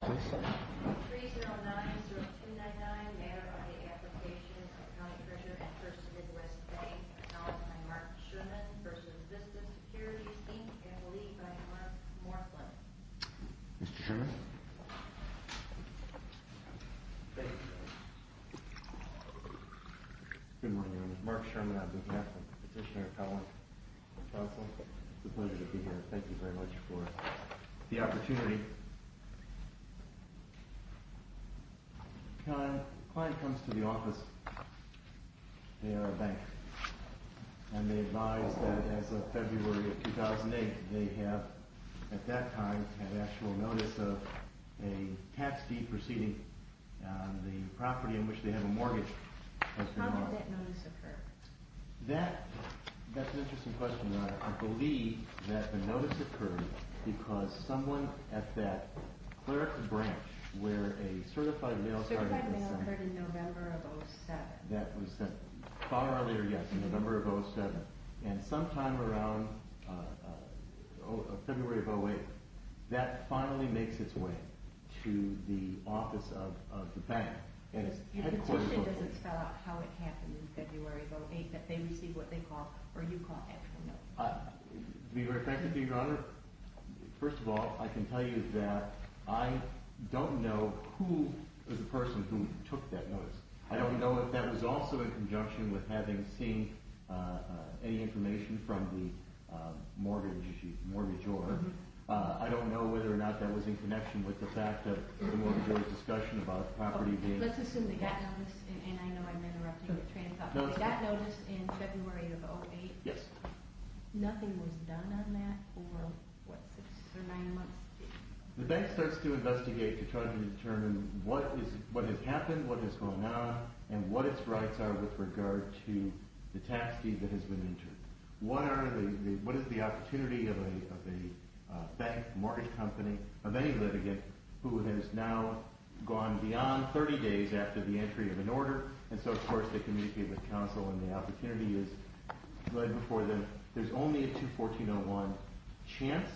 3090299, Matter of the Application of the County Treasurer and First Midwest Bank. Acknowledged by Mark Sherman v. Vista Securities, Inc. and believed by Mark Morflin. Mr. Sherman? Thank you. Good morning. I'm Mark Sherman. I'm the captain, petitioner, appellant, counsel. It's a pleasure to be here. Thank you very much for the opportunity. When a client comes to the office, they are a banker, and they advise that as of February of 2008, they have, at that time, had actual notice of a tax deed proceeding on the property in which they have a mortgage. How did that notice occur? That's an interesting question. I believe that the notice occurred because someone at that clerical branch where a certified mail started Certified mail occurred in November of 2007. That was sent far earlier, yes, in November of 2007. And sometime around February of 2008, that finally makes its way to the office of the bank. If the petition doesn't spell out how it happened in February of 2008, that they receive what they call, or you call, actual notice. To be very frank with you, Your Honor, first of all, I can tell you that I don't know who is the person who took that notice. I don't know if that was also in conjunction with having seen any information from the mortgagor. I don't know whether or not that was in connection with the fact that the mortgagor discussion about the property being Let's assume they got notice, and I know I'm interrupting, but that notice in February of 2008? Yes. Nothing was done on that for, what, six or nine months? The bank starts to investigate to try to determine what has happened, what has gone on, and what its rights are with regard to the tax deed that has been entered. What is the opportunity of a bank, mortgage company, of any litigant who has now gone beyond 30 days after the entry of an order? And so, of course, they communicate with counsel, and the opportunity is laid before them. There's only a 2-1401 chance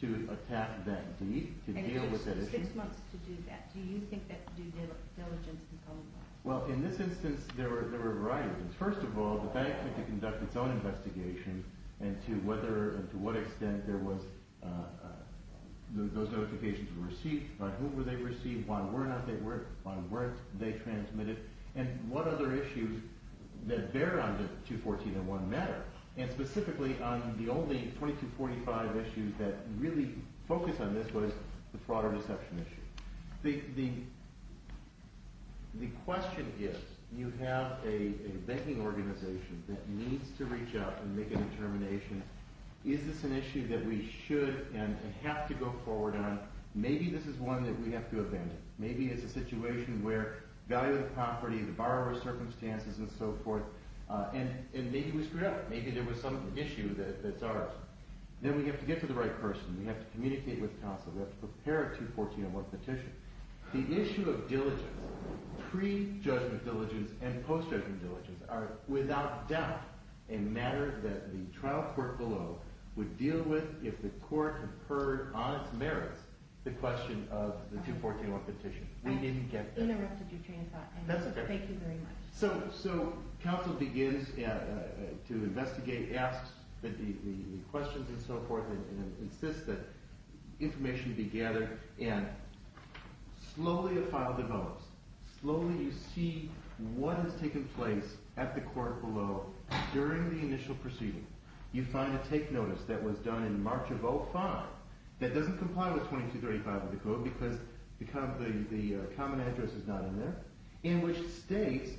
to attack that deed, to deal with that issue. And it took six months to do that. Do you think that due diligence has come about? Well, in this instance, there were a variety of reasons. First of all, the bank had to conduct its own investigation into whether and to what extent those notifications were received. By whom were they received? Why were they not? Why weren't they transmitted? And what other issues that bear on the 21401 matter? And specifically, the only 2245 issues that really focused on this was the fraud or deception issue. The question is, you have a banking organization that needs to reach out and make a determination. Is this an issue that we should and have to go forward on? Maybe this is one that we have to abandon. Maybe it's a situation where value of the property, the borrower's circumstances, and so forth, and maybe we screwed up. Maybe there was some issue that's ours. Then we have to get to the right person. We have to communicate with counsel. We have to prepare a 21401 petition. The issue of diligence, pre-judgment diligence and post-judgment diligence, are without doubt a matter that the trial court below would deal with if the court had heard on its merits the question of the 21401 petition. We didn't get that. I interrupted your train of thought. That's okay. Thank you very much. So counsel begins to investigate, asks the questions and so forth, and insists that information be gathered. And slowly a file develops. Slowly you see what has taken place at the court below during the initial proceeding. You find a take notice that was done in March of 2005 that doesn't comply with 2235 of the code because the common address is not in there. In which states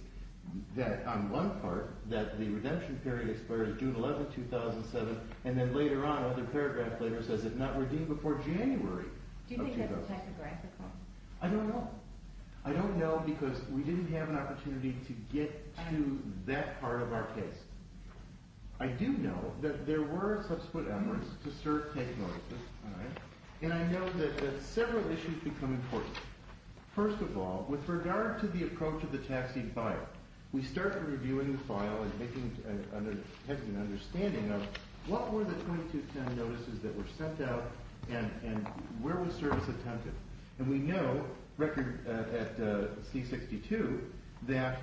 that on one part that the redemption period expires June 11, 2007, and then later on another paragraph later says it's not redeemed before January of 2005. Do you think that's a typographical? I don't know. I don't know because we didn't have an opportunity to get to that part of our case. I do know that there were subsequent efforts to assert take notices, and I know that several issues become important. First of all, with regard to the approach of the taxi file, we start reviewing the file and making an understanding of what were the 2210 notices that were sent out and where was service attempted. And we know, record at C-62, that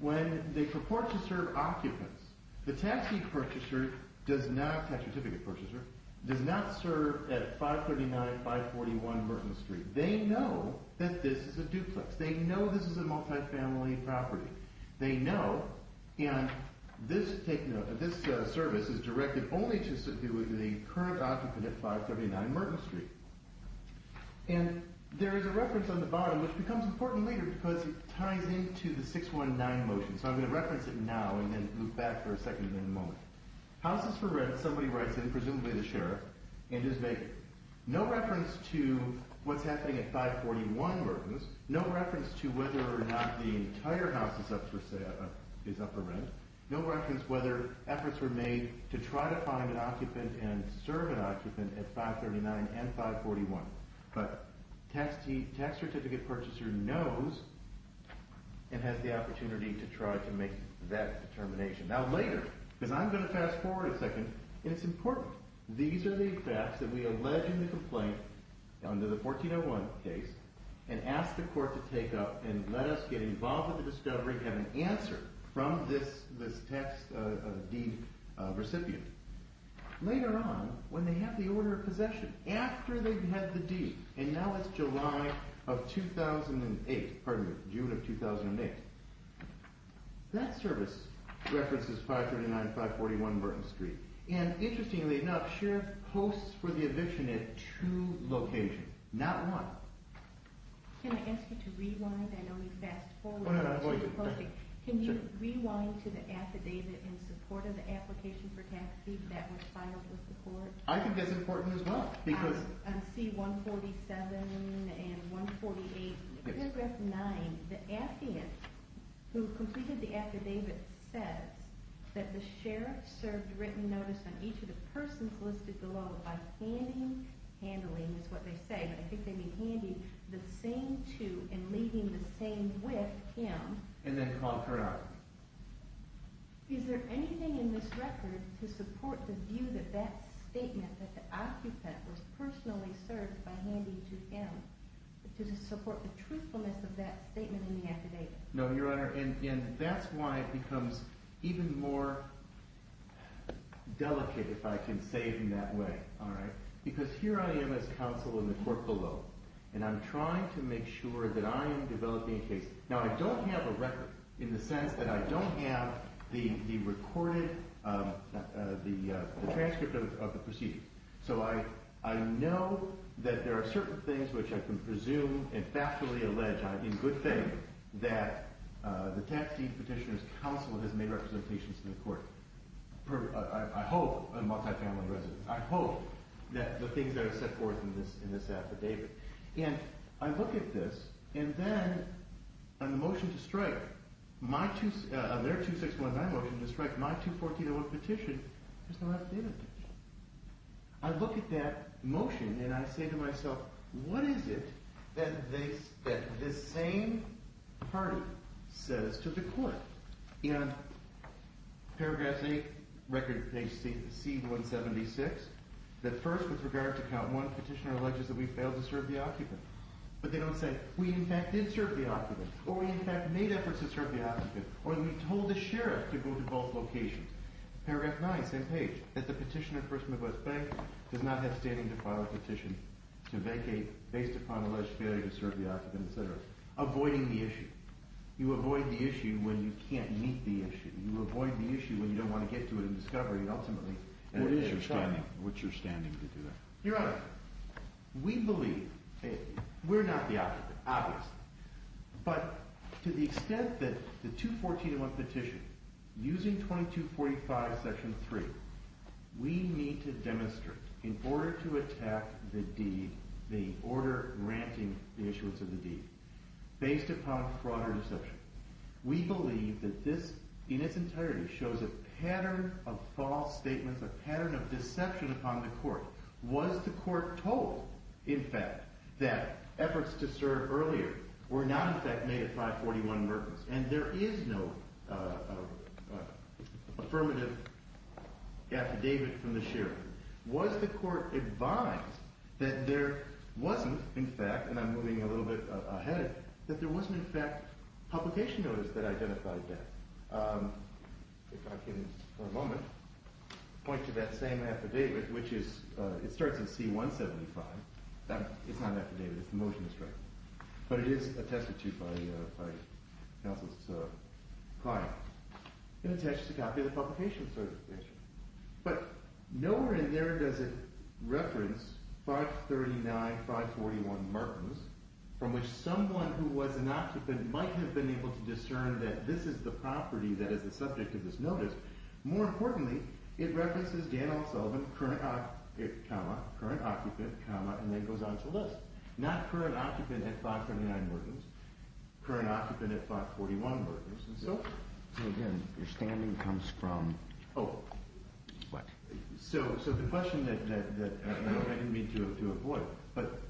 when they purport to serve occupants, the taxi purchaser does not, tax certificate purchaser, does not serve at 539-541 Merton Street. They know that this is a duplex. They know this is a multifamily property. They know, and this service is directed only to the current occupant at 539 Merton Street. And there is a reference on the bottom which becomes important later because it ties into the 619 motion. So I'm going to reference it now and then move back for a second in a moment. Houses for rent, somebody writes in, presumably the sheriff, and is vacant. No reference to what's happening at 541 Merton. No reference to whether or not the entire house is up for rent. No reference whether efforts were made to try to find an occupant and serve an occupant at 539 and 541. But tax certificate purchaser knows and has the opportunity to try to make that determination. Now later, because I'm going to fast forward a second, and it's important, these are the facts that we allege in the complaint under the 1401 case and ask the court to take up and let us get involved with the discovery and have an answer from this tax deed recipient. Later on, when they have the order of possession, after they've had the deed, and now it's July of 2008, pardon me, June of 2008, that service references 539 and 541 Merton Street. And interestingly enough, sheriff posts for the eviction at two locations, not one. Can I ask you to rewind? I know we fast forwarded. Can you rewind to the affidavit in support of the application for tax deed that was filed with the court? I think that's important as well. Because C147 and 148, paragraph 9, the affid, who completed the affidavit, says that the sheriff served written notice on each of the persons listed below by handing, handling is what they say, but I think they mean handing, the same to and leaving the same with him. And then called her out. Is there anything in this record to support the view that that statement that the occupant was personally served by handing to him, to support the truthfulness of that statement in the affidavit? No, Your Honor, and that's why it becomes even more delicate, if I can say it in that way, all right? Because here I am as counsel in the court below, and I'm trying to make sure that I am developing a case. Now, I don't have a record in the sense that I don't have the recorded, the transcript of the proceedings. So I know that there are certain things which I can presume and factually allege, in good faith, that the tax deed petitioner's counsel has made representations to the court. I hope, I'm a multifamily resident, I hope that the things that are set forth in this affidavit. And I look at this, and then on the motion to strike, on their 2619 motion to strike my 21401 petition, there's no affidavit. I look at that motion and I say to myself, what is it that this same party says to the court? In paragraph 8, record page C-176, that first, with regard to count 1, petitioner alleges that we failed to serve the occupant. But they don't say, we in fact did serve the occupant, or we in fact made efforts to serve the occupant, or we told the sheriff to go to both locations. Paragraph 9, same page, that the petitioner, first and foremost, does not have standing to file a petition to vacate based upon alleged failure to serve the occupant, etc. Avoiding the issue. You avoid the issue when you can't meet the issue. You avoid the issue when you don't want to get to it in discovery, ultimately. And what is your standing, what's your standing to do that? Your Honor, we believe, we're not the occupant, obviously. But to the extent that the 214-1 petition, using 2245 section 3, we need to demonstrate in order to attack the deed, the order granting the issuance of the deed, based upon fraud or deception. We believe that this, in its entirety, shows a pattern of false statements, a pattern of deception upon the court. Was the court told, in fact, that efforts to serve earlier were not in fact made at 541 Merkins, and there is no affirmative affidavit from the sheriff? Was the court advised that there wasn't, in fact, and I'm moving a little bit ahead of you, that there wasn't in fact a publication notice that identified that? If I can, for a moment, point to that same affidavit, which is, it starts in C-175. It's not an affidavit, it's a motion to strike. But it is attested to by counsel's client. It attests to a copy of the publication certification. But nowhere in there does it reference 539-541 Merkins, from which someone who was an occupant might have been able to discern that this is the property that is the subject of this notice. More importantly, it references Dan O'Sullivan, current occupant, comma, current occupant, comma, and then goes on to list. Not current occupant at 539 Merkins, current occupant at 541 Merkins, and so forth. Again, your standing comes from what? So the question that I didn't mean to avoid, but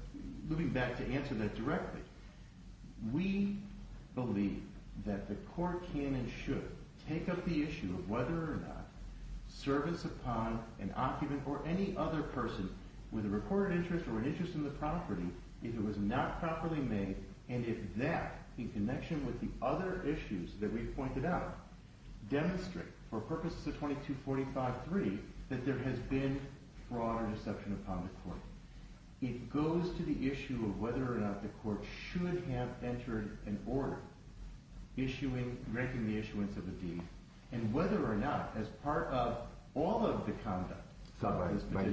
moving back to answer that directly, we believe that the court can and should take up the issue of whether or not servants upon an occupant or any other person with a recorded interest or an interest in the property, if it was not properly made, and if that, in connection with the other issues that we've pointed out, demonstrate for purposes of 2245-3 that there has been fraud or deception upon the court. It goes to the issue of whether or not the court should have entered an order ranking the issuance of a deed, and whether or not, as part of all of the conduct, But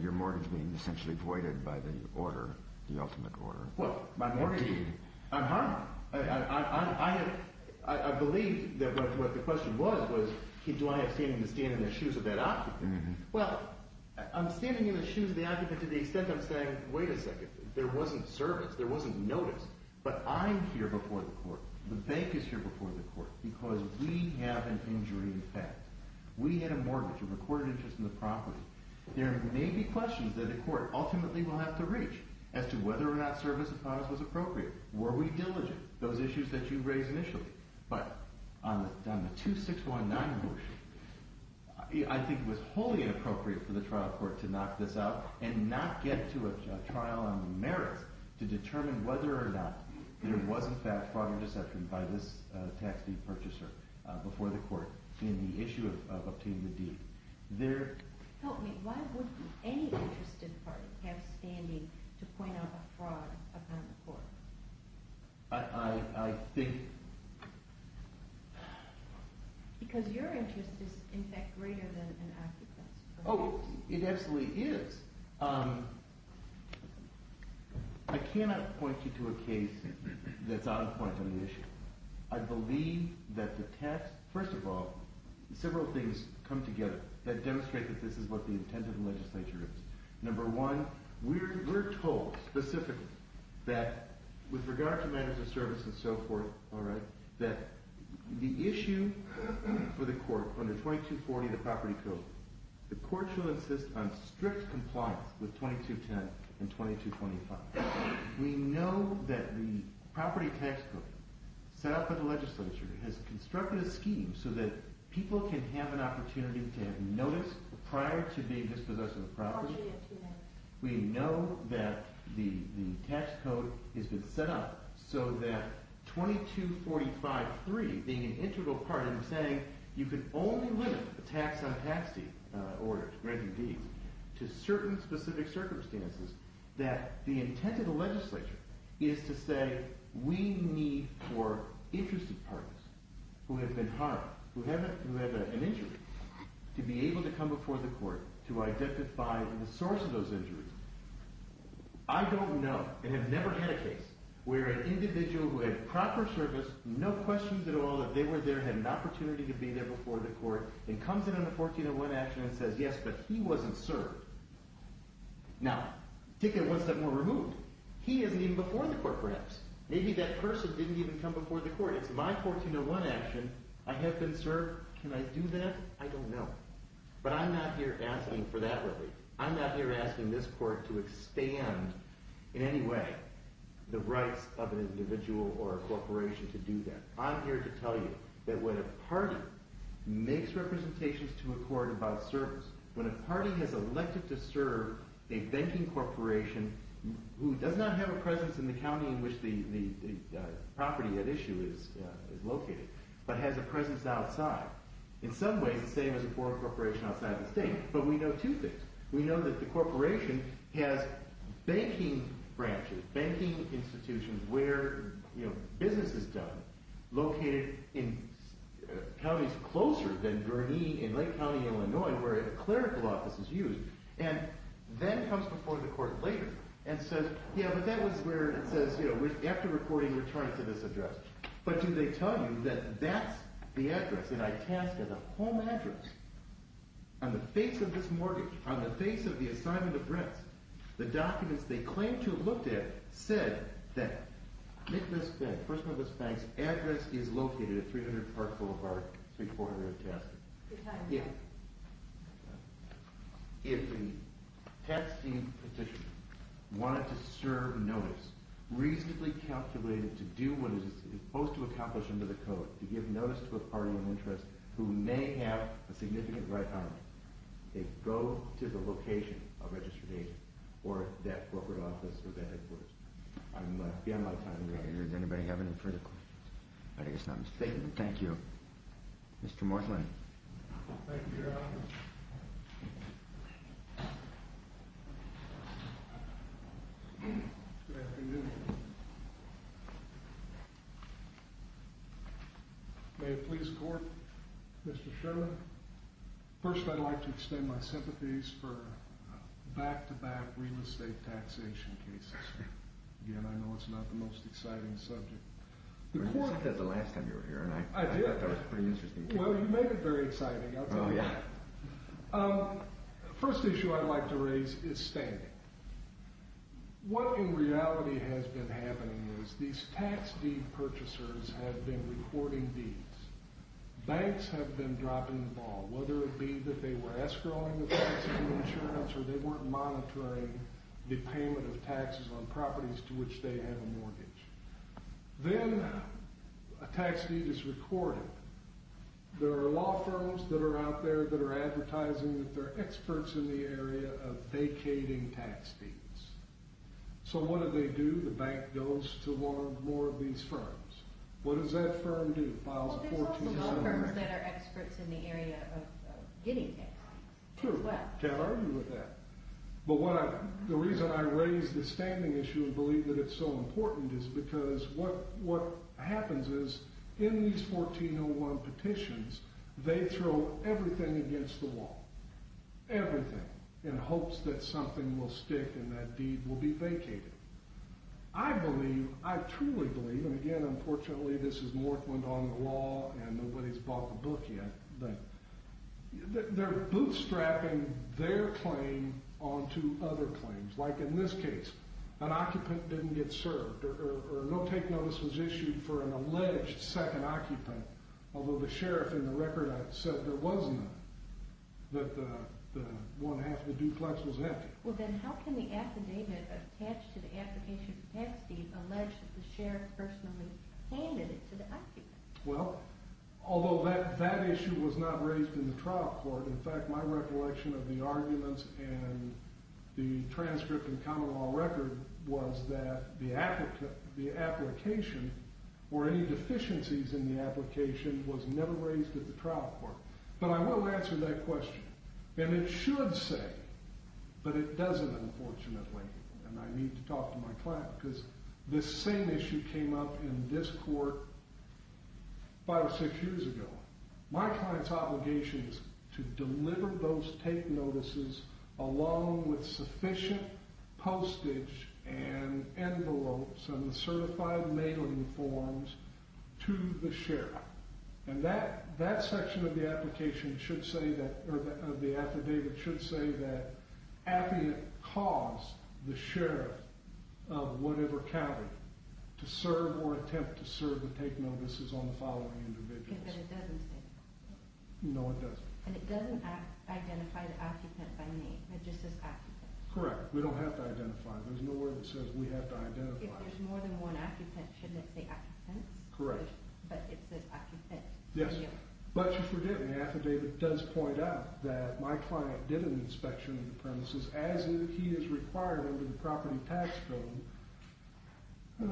your mortgage being essentially voided by the order, the ultimate order. Well, my mortgage being voided, I'm harmed. I believe that what the question was, was do I have standing to stand in the shoes of that occupant? Well, I'm standing in the shoes of the occupant to the extent I'm saying, wait a second, there wasn't service, there wasn't notice, but I'm here before the court. The bank is here before the court because we have an injury in fact. We had a mortgage, a recorded interest in the property. There may be questions that a court ultimately will have to reach as to whether or not service upon us was appropriate. Were we diligent? Those issues that you raised initially. But on the 2619 motion, I think it was wholly inappropriate for the trial court to knock this out and not get to a trial on the merits to determine whether or not there was in fact fraud or deception by this tax deed purchaser before the court in the issue of obtaining the deed. Help me, why would any interested party have standing to point out a fraud upon the court? I think... Because your interest is in fact greater than an occupant's. Oh, it absolutely is. I cannot point you to a case that's out of point on the issue. I believe that the tax, first of all, several things come together that demonstrate that this is what the intent of the legislature is. Number one, we're told specifically that with regard to matters of service and so forth, alright, that the issue for the court under 2240, the property code, the court shall insist on strict compliance with 2210 and 2225. We know that the property tax code set up by the legislature has constructed a scheme so that people can have an opportunity to have notice prior to being dispossessed of the property. We know that the tax code has been set up so that 2245.3, being an integral part, and I'm saying you can only limit a tax on a tax deed or granting deeds to certain specific circumstances, that the intent of the legislature is to say we need for interested parties who have been harmed, who have an injury, to be able to come before the court to identify the source of those injuries. I don't know and have never had a case where an individual who had proper service, no questions at all that they were there, had an opportunity to be there before the court, and comes in on a 1401 action and says yes, but he wasn't served. Now, take it one step more removed. He isn't even before the court perhaps. Maybe that person didn't even come before the court. It's my 1401 action. I have been served. Can I do that? I don't know. But I'm not here asking for that really. I'm not here asking this court to expand in any way the rights of an individual or a corporation to do that. I'm here to tell you that when a party makes representations to a court about service, when a party has elected to serve a banking corporation who does not have a presence in the county in which the property at issue is located, but has a presence outside, in some ways the same as a foreign corporation outside the state, but we know two things. We know that the corporation has banking branches, banking institutions where business is done, located in counties closer than Gurnee in Lake County, Illinois, where a clerical office is used, and then comes before the court later and says, yeah, but that was where it says, after reporting, return it to this address. But do they tell you that that's the address, that I tasked as a home address on the face of this mortgage, on the face of the assignment of rents, the documents they claim to have looked at said that Nicklaus Bank, the person with this bank's address is located at 300 Park Boulevard, 3400 Tasker. If the tax team petition wanted to serve notice, reasonably calculated to do what it is supposed to accomplish under the code, to give notice to a party of interest who may have a significant right on it, they go to the location of registered agent or that corporate office or that headquarters. I'm out of time. Does anybody have any further questions? I guess not Mr. Chairman. Thank you. Mr. Martland. Thank you, Your Honor. Good afternoon. May it please the court, Mr. Sherman. First, I'd like to extend my sympathies for back-to-back real estate taxation cases. Again, I know it's not the most exciting subject. I thought that was the last time you were here and I thought that was a pretty interesting case. Well, you make it very exciting, I'll tell you. Oh, yeah. The first issue I'd like to raise is standing. What in reality has been happening is these tax deed purchasers have been reporting deeds. Banks have been dropping the ball, whether it be that they were escrowing the banks for insurance or they weren't monitoring the payment of taxes on properties to which they have a mortgage. Then a tax deed is recorded. There are law firms that are out there that are advertising that they're experts in the area of vacating tax deeds. So what do they do? The bank goes to one or more of these firms. What does that firm do? Files a 14-cent warrant. Well, there's also law firms that are experts in the area of getting taxed as well. True. Can't argue with that. But the reason I raise the standing issue and believe that it's so important is because what happens is in these 1401 petitions, they throw everything against the wall, everything, in hopes that something will stick and that deed will be vacated. I believe, I truly believe, and again, unfortunately, this is Northland on the law and nobody's bought the book yet, that they're bootstrapping their claim onto other claims. Like in this case, an occupant didn't get served or no take notice was issued for an alleged second occupant, although the sheriff in the record said there was none, that the one half of the duplex was empty. Well, then how can the affidavit attached to the application for tax deed allege that the sheriff personally handed it to the occupant? Well, although that issue was not raised in the trial court, in fact, my recollection of the arguments and the transcript and common law record was that the application or any deficiencies in the application was never raised at the trial court. But I will answer that question, and it should say, but it doesn't, unfortunately, and I need to talk to my client because this same issue came up in this court five or six years ago. My client's obligation is to deliver those take notices along with sufficient postage and envelopes and the certified mailing forms to the sheriff. And that section of the application should say that, or the affidavit should say that Affiant caused the sheriff of whatever county to serve or attempt to serve the take notices on the following individuals. No, it doesn't. And it doesn't identify the occupant by name. It just says occupant. Correct. We don't have to identify. There's no word that says we have to identify. If there's more than one occupant, shouldn't it say occupant? Correct. But it says occupant. Yes. But you forget, the affidavit does point out that my client did an inspection of the premises as he is required under the property tax code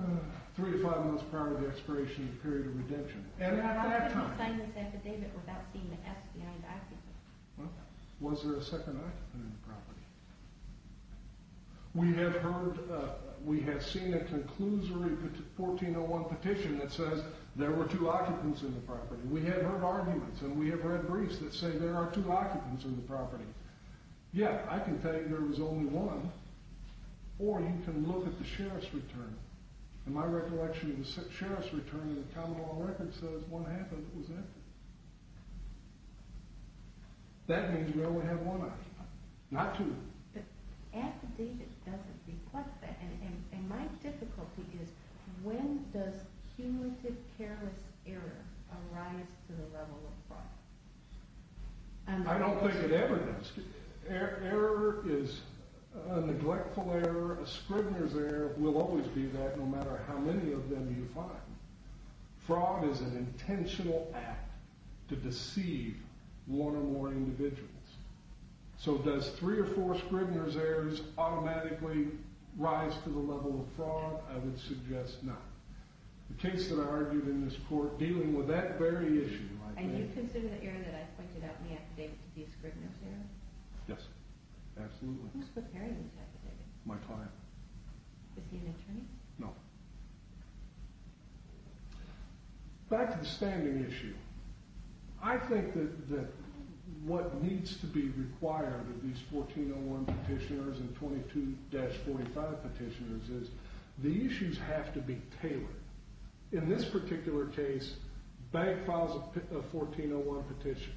three to five months prior to the expiration of the period of redemption. How can you sign this affidavit without seeing the S behind occupant? Well, was there a second occupant in the property? We have heard, we have seen a conclusory 1401 petition that says there were two occupants in the property. We have heard arguments and we have heard briefs that say there are two occupants in the property. Yet, I can tell you there was only one. Or you can look at the sheriff's return. In my recollection, the sheriff's return in the common law record says one occupant was active. That means we only have one occupant. Not two. The affidavit doesn't reflect that. And my difficulty is when does cumulative careless error arise to the level of fraud? I don't think it ever does. Error is a neglectful error. A Scribner's error will always be that no matter how many of them you find. Fraud is an intentional act to deceive one or more individuals. So does three or four Scribner's errors automatically rise to the level of fraud? I would suggest not. The case that I argued in this court dealing with that very issue. And you consider the error that I pointed out in the affidavit to be a Scribner's error? Yes. Absolutely. Who's preparing the affidavit? My client. Is he an attorney? No. Back to the standing issue. I think that what needs to be required of these 1401 petitioners and 22-45 petitioners is the issues have to be tailored. In this particular case, Bank files a 1401 petition.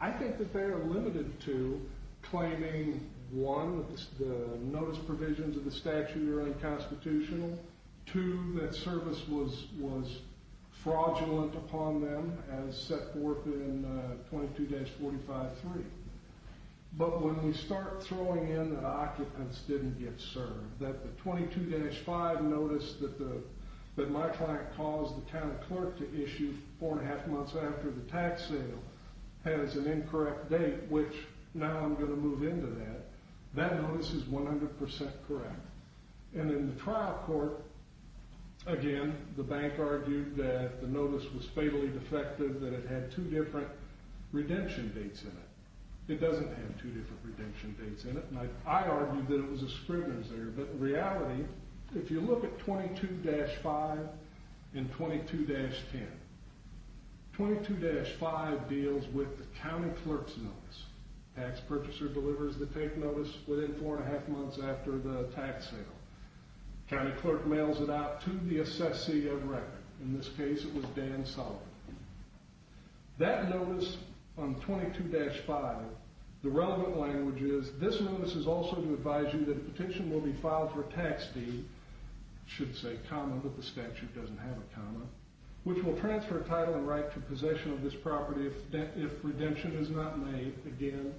I think that they are limited to claiming, one, that the notice provisions of the statute are unconstitutional. Two, that service was fraudulent upon them as set forth in 22-45-3. But when we start throwing in that occupants didn't get served, that the 22-5 notice that my client calls the county clerk to issue four and a half months after the tax sale has an incorrect date, which now I'm going to move into that, that notice is 100% correct. And in the trial court, again, the bank argued that the notice was fatally defective, that it had two different redemption dates in it. It doesn't have two different redemption dates in it, and I argued that it was a Scribner's error. But in reality, if you look at 22-5 and 22-10, 22-5 deals with the county clerk's notice. Tax purchaser delivers the take notice within four and a half months after the tax sale. County clerk mails it out to the assessee of record. In this case, it was Dan Sullivan. That notice on 22-5, the relevant language is, this notice is also to advise you that a petition will be filed for tax deed, should say comma, but the statute doesn't have a comma, which will transfer title and right to possession of this property if redemption is not made, again,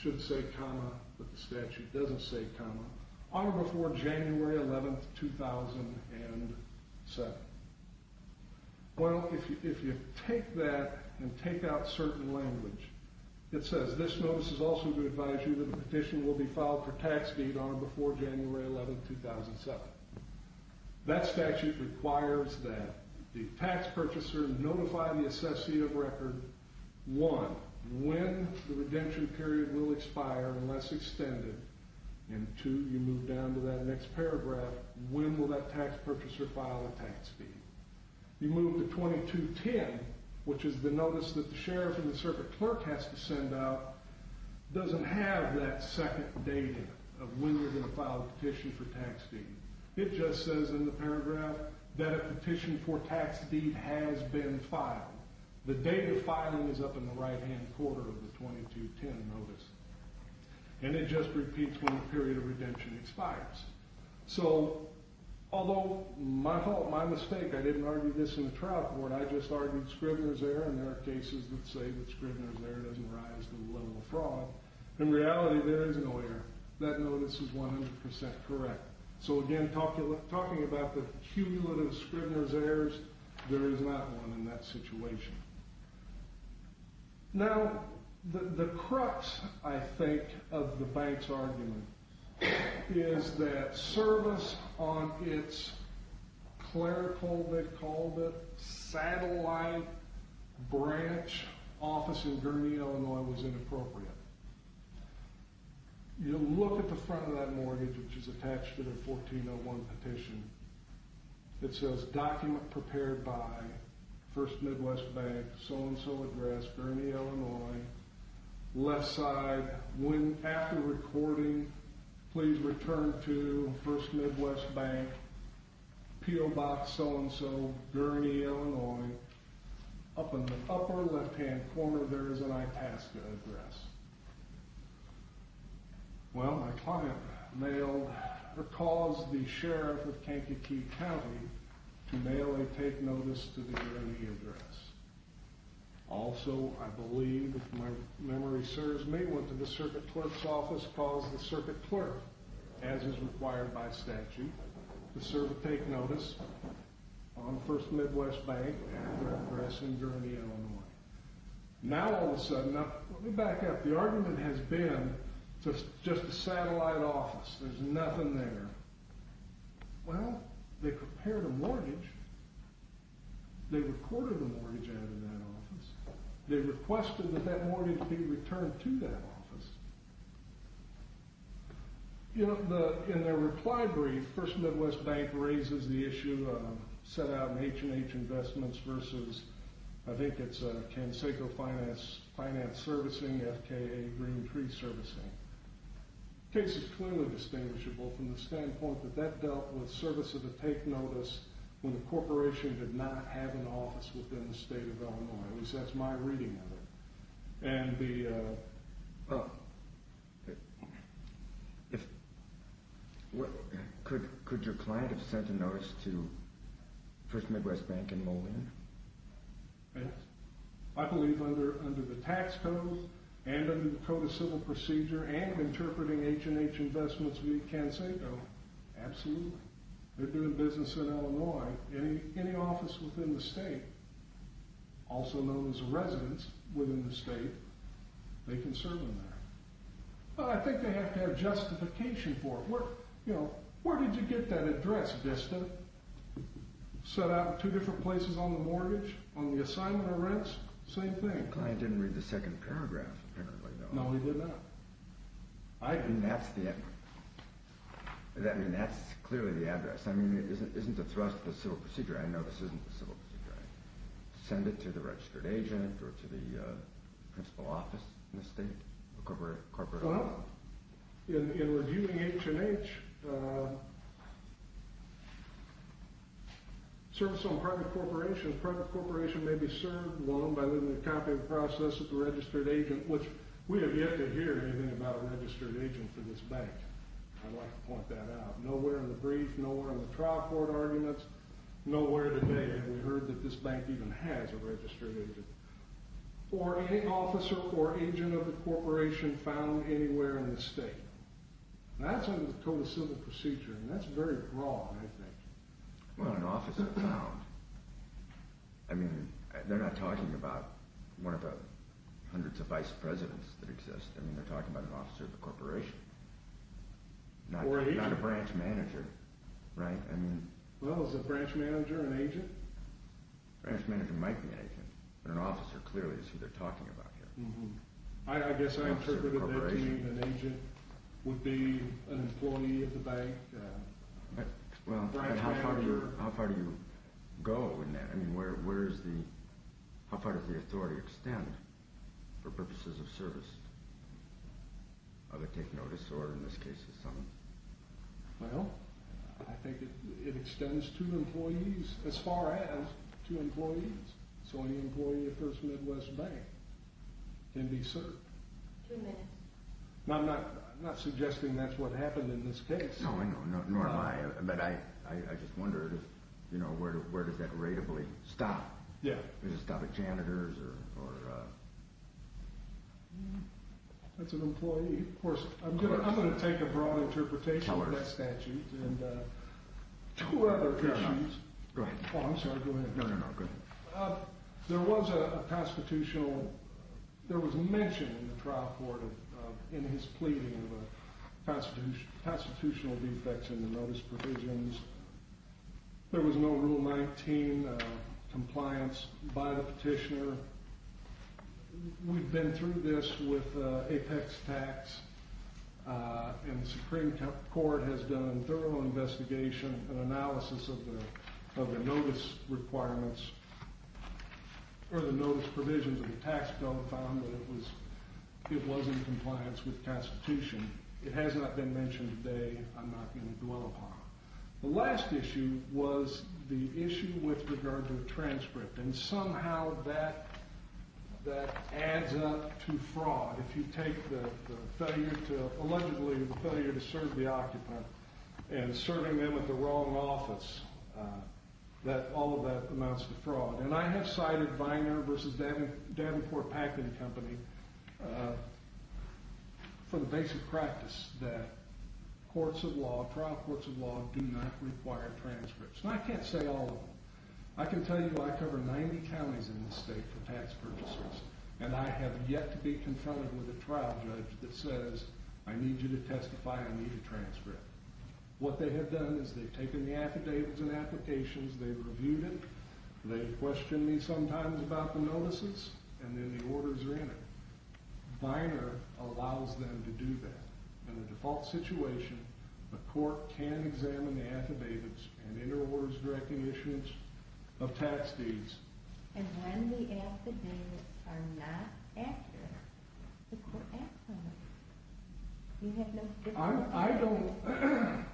should say comma, but the statute doesn't say comma, on or before January 11, 2007. Well, if you take that and take out certain language, it says, this notice is also to advise you that a petition will be filed for tax deed on or before January 11, 2007. That statute requires that the tax purchaser notify the assessee of record, one, when the redemption period will expire unless extended, and two, you move down to that next paragraph, when will that tax purchaser file a tax deed? You move to 22-10, which is the notice that the sheriff and the circuit clerk has to send out, doesn't have that second data of when you're going to file a petition for tax deed. It just says in the paragraph that a petition for tax deed has been filed. The date of filing is up in the right-hand corner of the 22-10 notice. And it just repeats when the period of redemption expires. So, although my fault, my mistake, I didn't argue this in the trial court, I just argued Scribner's error, and there are cases that say that Scribner's error doesn't rise to the level of fraud. In reality, there is no error. That notice is 100% correct. So again, talking about the cumulative Scribner's errors, there is not one in that situation. Now, the crux, I think, of the bank's argument is that service on its clerical, they called it, satellite branch office in Gurnee, Illinois, was inappropriate. You look at the front of that mortgage, which is attached to the 1401 petition, it says, document prepared by First Midwest Bank, so-and-so address, Gurnee, Illinois. Left side, after recording, please return to First Midwest Bank, PO Box, so-and-so, Gurnee, Illinois. Up in the upper left-hand corner, there is an ITASCA address. Well, my client mailed or calls the sheriff of Kankakee County to mail a take notice to the Gurnee address. Also, I believe, if my memory serves me, went to the circuit clerk's office, calls the circuit clerk, as is required by statute, to serve a take notice on First Midwest Bank address in Gurnee, Illinois. Now, all of a sudden, now, let me back up. The argument has been, it's just a satellite office. There's nothing there. Well, they prepared a mortgage. They recorded the mortgage out of that office. They requested that that mortgage be returned to that office. You know, in their reply brief, First Midwest Bank raises the issue of set-out H&H investments versus, I think it's Kansako Finance Servicing, FKA Green Tree Servicing. The case is clearly distinguishable from the standpoint that that dealt with service of the take notice when the corporation did not have an office within the state of Illinois. At least, that's my reading of it. And the... Could your client have sent a notice to First Midwest Bank in Moline? Yes. I believe under the tax code, and under the Code of Civil Procedure, and interpreting H&H investments via Kansako, absolutely. They're doing business in Illinois. Any office within the state, also known as a residence within the state, they can serve them there. I think they have to have justification for it. Where did you get that address, Vista? Set out in two different places on the mortgage, on the assignment of rents? Same thing. The client didn't read the second paragraph, apparently. No, he did not. I mean, that's clearly the address. I mean, isn't the thrust of the Civil Procedure? I know this isn't the Civil Procedure. Send it to the registered agent or to the principal office in the state? A corporate loan? In reviewing H&H, service on private corporations, private corporation may be served loan by living a copy of the process of the registered agent, which we have yet to hear anything about a registered agent for this bank. I'd like to point that out. Nowhere in the brief, nowhere in the trial court arguments, nowhere today have we heard that this bank even has a registered agent. Or any officer or agent of the corporation found anywhere in the state. That's under the total Civil Procedure, and that's very broad, I think. Well, an officer found. I mean, they're not talking about one of the hundreds of vice presidents that exist. I mean, they're talking about an officer of the corporation. Not a branch manager, right? Well, is a branch manager an agent? A branch manager might be an agent, but an officer clearly is who they're talking about here. I guess I interpreted that to mean an agent would be an employee of the bank. Well, how far do you go in that? I mean, how far does the authority extend for purposes of service? Does it take notice, or in this case, is something? Well, I think it extends to employees as far as two employees. So an employee of First Midwest Bank can be served. Two minutes. Now, I'm not suggesting that's what happened in this case. No, nor am I, but I just wondered where does that rateably stop? Yeah. Does it stop at janitors or? That's an employee. Of course. I'm going to take a broad interpretation of that statute. Go ahead. Oh, I'm sorry. Go ahead. No, no, no. Go ahead. There was a pastitutional. There was a mention in the trial court in his pleading of a pastitutional defects in the notice provisions. There was no Rule 19 compliance by the petitioner. We've been through this with Apex Tax, and the Supreme Court has done a thorough investigation and analysis of the notice requirements or the notice provisions of the tax code found that it was in compliance with the Constitution. It has not been mentioned today. I'm not going to dwell upon it. The last issue was the issue with regard to the transcript, and somehow that adds up to fraud. If you take the failure to allegedly serve the occupant and serving them at the wrong office, all of that amounts to fraud. And I have cited Viner v. Davenport Packing Company for the basic practice that courts of law, trial courts of law, do not require transcripts. And I can't say all of them. I can tell you I cover 90 counties in this state for tax purchasers, and I have yet to be confronted with a trial judge that says, I need you to testify, I need a transcript. What they have done is they've taken the affidavits and applications, they've reviewed it, they've questioned me sometimes about the notices, and then the orders are in it. Viner allows them to do that. In a default situation, the court can examine the affidavits and inter-orders directing issuance of tax deeds. And when the affidavits are not accurate, the court acts on them. I don't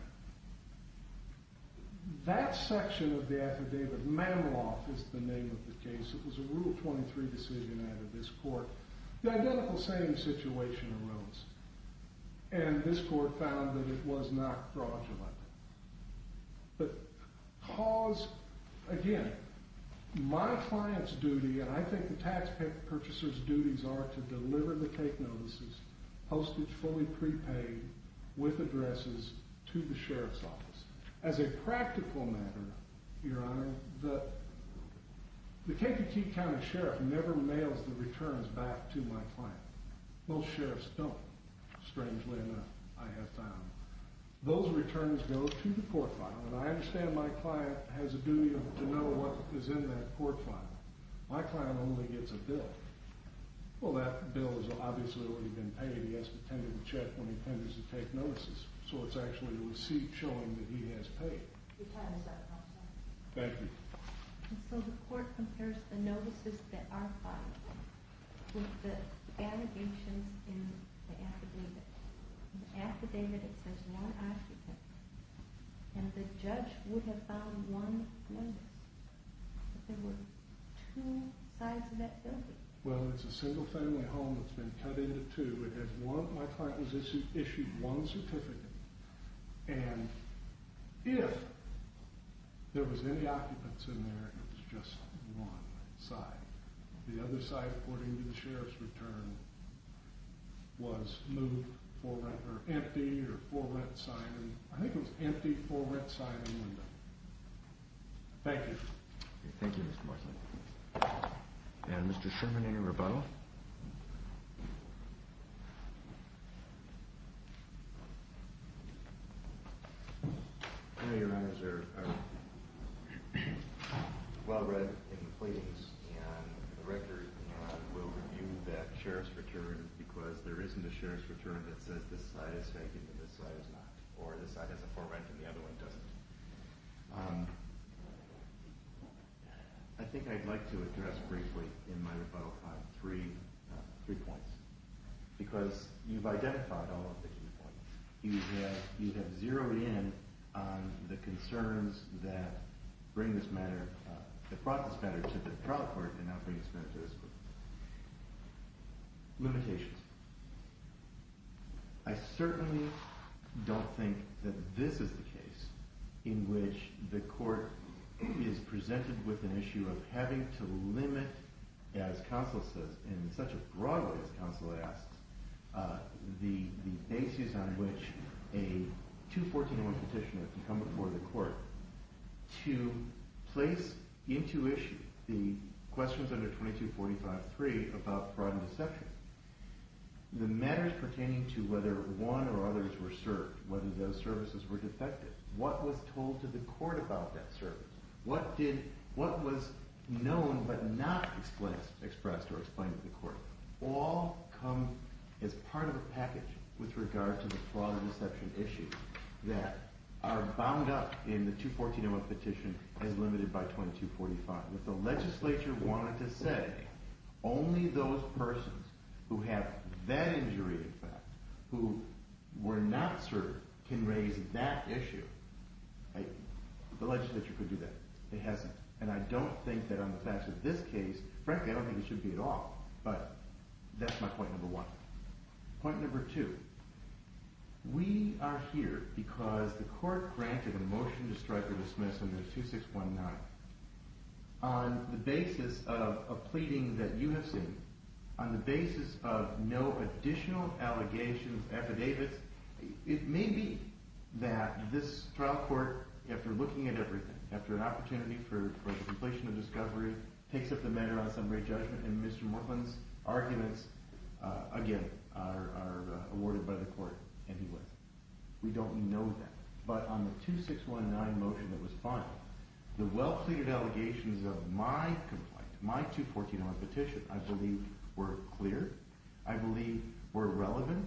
– that section of the affidavit, Mameloff is the name of the case, it was a Rule 23 decision out of this court. The identical same situation arose, and this court found that it was not fraudulent. But cause – again, my client's duty, and I think the taxpayer purchaser's duties, are to deliver the cake notices, postage fully prepaid, with addresses, to the sheriff's office. As a practical matter, Your Honor, the Kentucky County Sheriff never mails the returns back to my client. Most sheriffs don't, strangely enough, I have found. Those returns go to the court file, and I understand my client has a duty to know what is in that court file. My client only gets a bill. Well, that bill is obviously already been paid. He has to tend to the check when he tenders the cake notices. So it's actually a receipt showing that he has paid. Your time is up, counsel. Thank you. And so the court compares the notices that are filed with the allegations in the affidavit. In the affidavit, it says one occupant, and the judge would have found one notice. But there were two sides of that building. Well, it's a single-family home that's been cut into two. My client was issued one certificate, and if there was any occupants in there, it was just one side. The other side, according to the sheriff's return, was moved for rent or empty or for rent signing. I think it was empty for rent signing window. Thank you. Thank you, Mr. Marsland. And Mr. Sherman, any rebuttal? I know your honors are well read in the pleadings and the record, and we'll review that sheriff's return because there isn't a sheriff's return that says this side is taking and this side is not, or this side has a for rent and the other one doesn't. I think I'd like to address briefly in my rebuttal three points because you've identified all of the key points. You have zeroed in on the concerns that bring this matter – that brought this matter to the trial court and now bring it to this court. Limitations. I certainly don't think that this is the case in which the court is presented with an issue of having to limit, as counsel says, in such a broad way as counsel asks, the basis on which a 214.1 petitioner can come before the court to place into issue the questions under 2245.3 about fraud and deception. The matters pertaining to whether one or others were served, whether those services were defected, what was told to the court about that service, what was known but not expressed or explained to the court, all come as part of a package with regard to the fraud and deception issues that are bound up in the 214.1 petition as limited by 2245. If the legislature wanted to say only those persons who have that injury in fact, who were not served, can raise that issue, the legislature could do that. It hasn't. And I don't think that on the facts of this case, frankly I don't think it should be at all, but that's my point number one. Point number two, we are here because the court granted a motion to strike or dismiss under 2619. On the basis of a pleading that you have seen, on the basis of no additional allegations, affidavits, it may be that this trial court, after looking at everything, after an opportunity for the completion of discovery, takes up the matter on summary judgment and Mr. Mortland's arguments, again, are awarded by the court anyway. We don't know that. But on the 2619 motion that was filed, the well-pleaded allegations of my complaint, my 214.1 petition I believe were clear, I believe were relevant,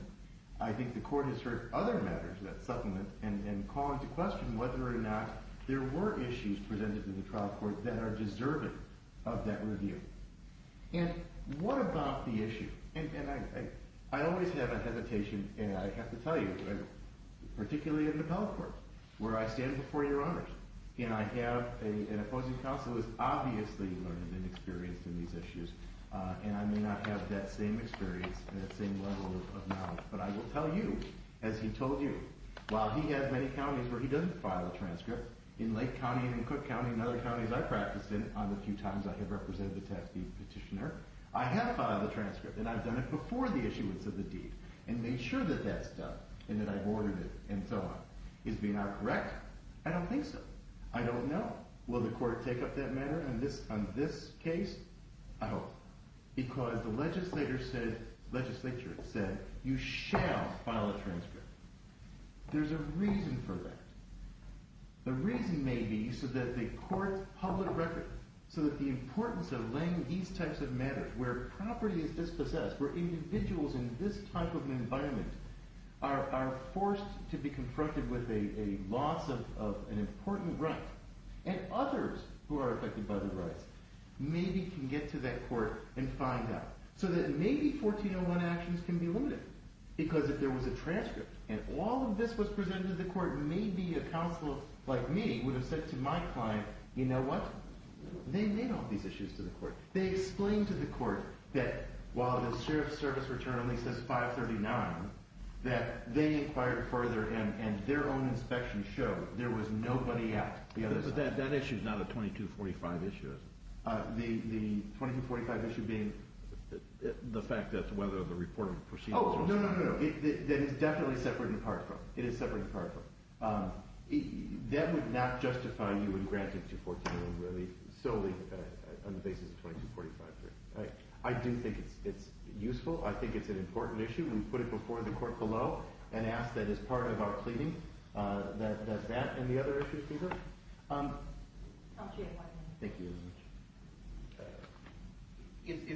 I think the court has heard other matters that supplement and call into question whether or not there were issues presented to the trial court that are deserving of that review. And what about the issue? And I always have a hesitation, and I have to tell you, particularly in the appellate court, where I stand before your honors, and I have an opposing counsel who has obviously learned and experienced in these issues, and I may not have that same experience and that same level of knowledge, but I will tell you, as he told you, while he has many counties where he doesn't file a transcript, in Lake County and in Cook County and other counties I've practiced in, on the few times I have represented the task of petitioner, I have filed a transcript, and I've done it before the issuance of the deed, and made sure that that's done, and that I've ordered it, and so on. Is being out correct? I don't think so. I don't know. Will the court take up that matter on this case? I hope not. Because the legislature said, you shall file a transcript. There's a reason for that. The reason may be so that the court's public record, so that the importance of laying these types of matters, where property is dispossessed, where individuals in this type of environment are forced to be confronted with a loss of an important right, and others who are affected by the rights, maybe can get to that court and find out. So that maybe 1401 actions can be limited, because if there was a transcript, and all of this was presented to the court, maybe a counsel like me would have said to my client, you know what? They don't have these issues to the court. They explained to the court that while the Sheriff's Service return at least says 539, that they inquired further, and their own inspection showed there was nobody out the other side. But that issue is not a 2245 issue, is it? The 2245 issue being the fact that whether the report of the proceedings was found? Oh, no, no, no. That is definitely separate and apart from it. It is separate and apart from it. That would not justify you in granting 2141, really, solely on the basis of 2245. I do think it is useful. I think it is an important issue. We put it before the court below, and ask that as part of our pleading, that does that and the other issues do that. Thank you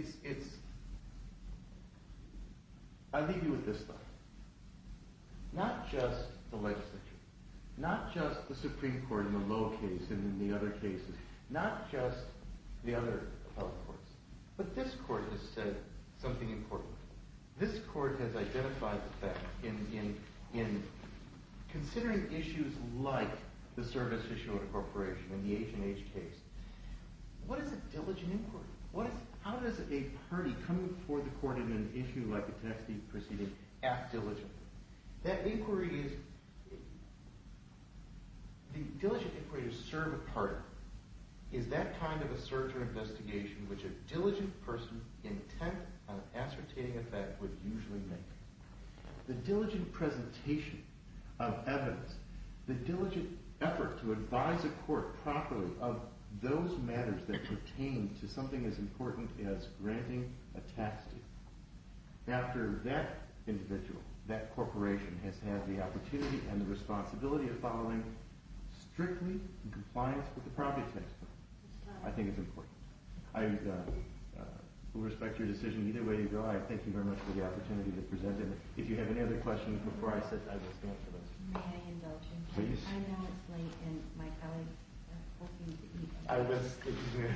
very much. I leave you with this thought. Not just the legislature, not just the Supreme Court in the Lowe case and in the other cases, not just the other appellate courts, but this court has said something important. This court has identified the fact in considering issues like the service issue of incorporation and the H&H case, what is a diligent inquiry? How does a party come before the court in an issue like the Tennessee proceeding act diligently? That inquiry is, the diligent inquiry to serve a party is that kind of a search or investigation which a diligent person's intent on ascertaining a fact would usually make. The diligent presentation of evidence, the diligent effort to advise a court properly of those matters that pertain to something as important as granting a tax deal. After that individual, that corporation has had the opportunity and the responsibility of following strictly in compliance with the property tax law. I think it is important. I will respect your decision either way you go. I thank you very much for the opportunity to present it. If you have any other questions before I sit, I will stand for those. May I have an indulgence? Please. I know it's late and my colleagues are hoping to eat. I will sit here.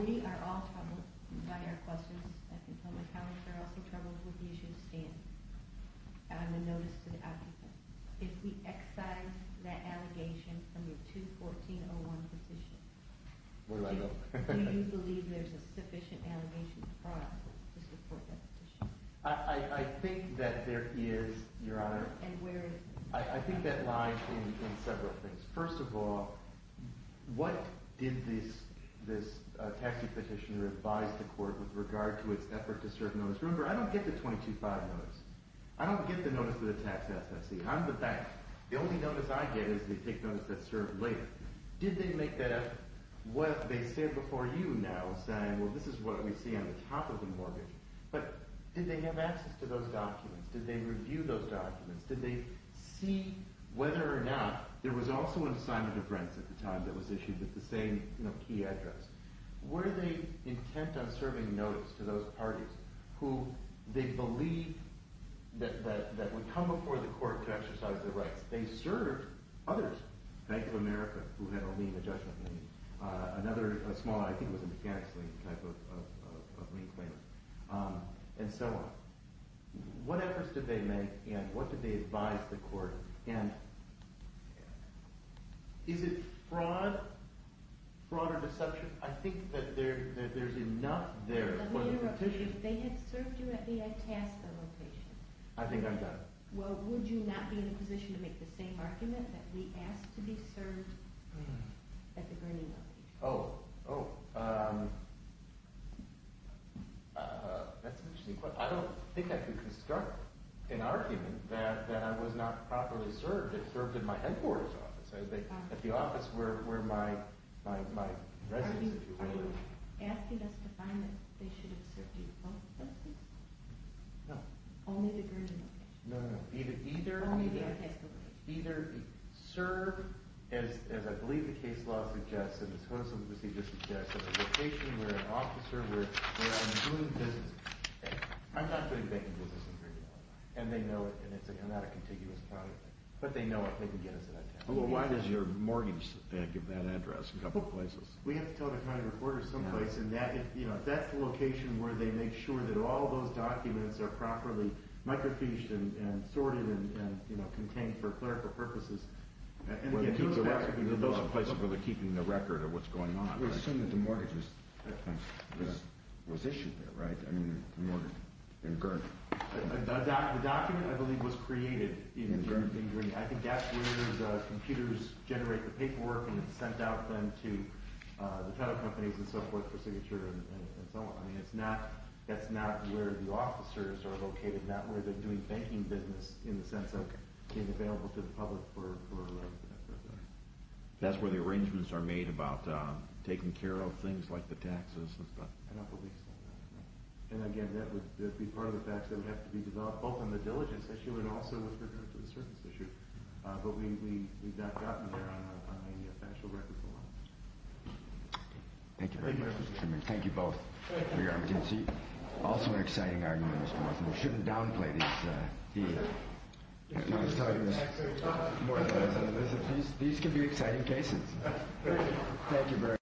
We are all troubled by our questions. I can tell my colleagues are also troubled with the issue of standing. I have a notice to the applicant. If we excise that allegation from your 214-01 petition. Where do I go? Do you believe there is a sufficient amortization process to support that petition? I think that there is, Your Honor. And where is it? I think that lies in several things. First of all, what did this taxee petitioner advise the court with regard to its effort to serve notice? Remember, I don't get the 22-5 notice. I don't get the notice of the tax assessee. I'm the bank. The only notice I get is the take notice that's served later. Did they make that effort? They stand before you now saying, well, this is what we see on the top of the mortgage. But did they have access to those documents? Did they review those documents? Did they see whether or not there was also an assignment of rents at the time that was issued with the same key address? Were they intent on serving notice to those parties who they believed that would come before the court to exercise their rights? They served others. Bank of America, who had a lien adjustment. Another small, I think it was a mechanics lien type of lien claim. And so on. What efforts did they make and what did they advise the court? And is it fraud? Fraud or deception? I think that there's enough there for the petition. Let me interrupt you. If they had served you and they had tasked the location. I think I've got it. Well, would you not be in a position to make the same argument that we asked to be served at the Grinning Valley? Oh, that's an interesting question. I don't think I could construct an argument that I was not properly served if served at my headquarters office. At the office where my residence, if you will. Are you asking us to find that they should have served you both places? No. Only the Grinning Valley? No, no, no. Either serve, as I believe the case law suggests and this hostile procedure suggests, at a location where an officer, where I'm doing business. I'm not doing banking business in Grinning Valley. And they know it. And it's not a contiguous product. But they know it. They can get us that address. Well, why does your mortgage give that address? A couple places. We have to tell the county reporter someplace. If that's the location where they make sure that all those documents are properly microfiched and sorted and contained for clerical purposes. Well, it keeps the record. It keeps the record of what's going on. We assume that the mortgage was issued there, right? I mean, the mortgage in Gurn. The document, I believe, was created in Grinning. I think that's where those computers generate the paperwork and it's sent out then to the title companies and so forth for signature and so on. I mean, that's not where the officers are located. Not where they're doing banking business in the sense of being available to the public for... That's where the arrangements are made about taking care of things like the taxes and stuff. I don't believe so. And again, that would be part of the facts that would have to be developed, both on the diligence issue and also with regard to the service issue. But we've not gotten there on any actual records alone. Thank you very much, Mr. Chairman. Thank you both. Thank you. Also an exciting argument, Mr. Martin. We shouldn't downplay these... These could be exciting cases. Thank you very much.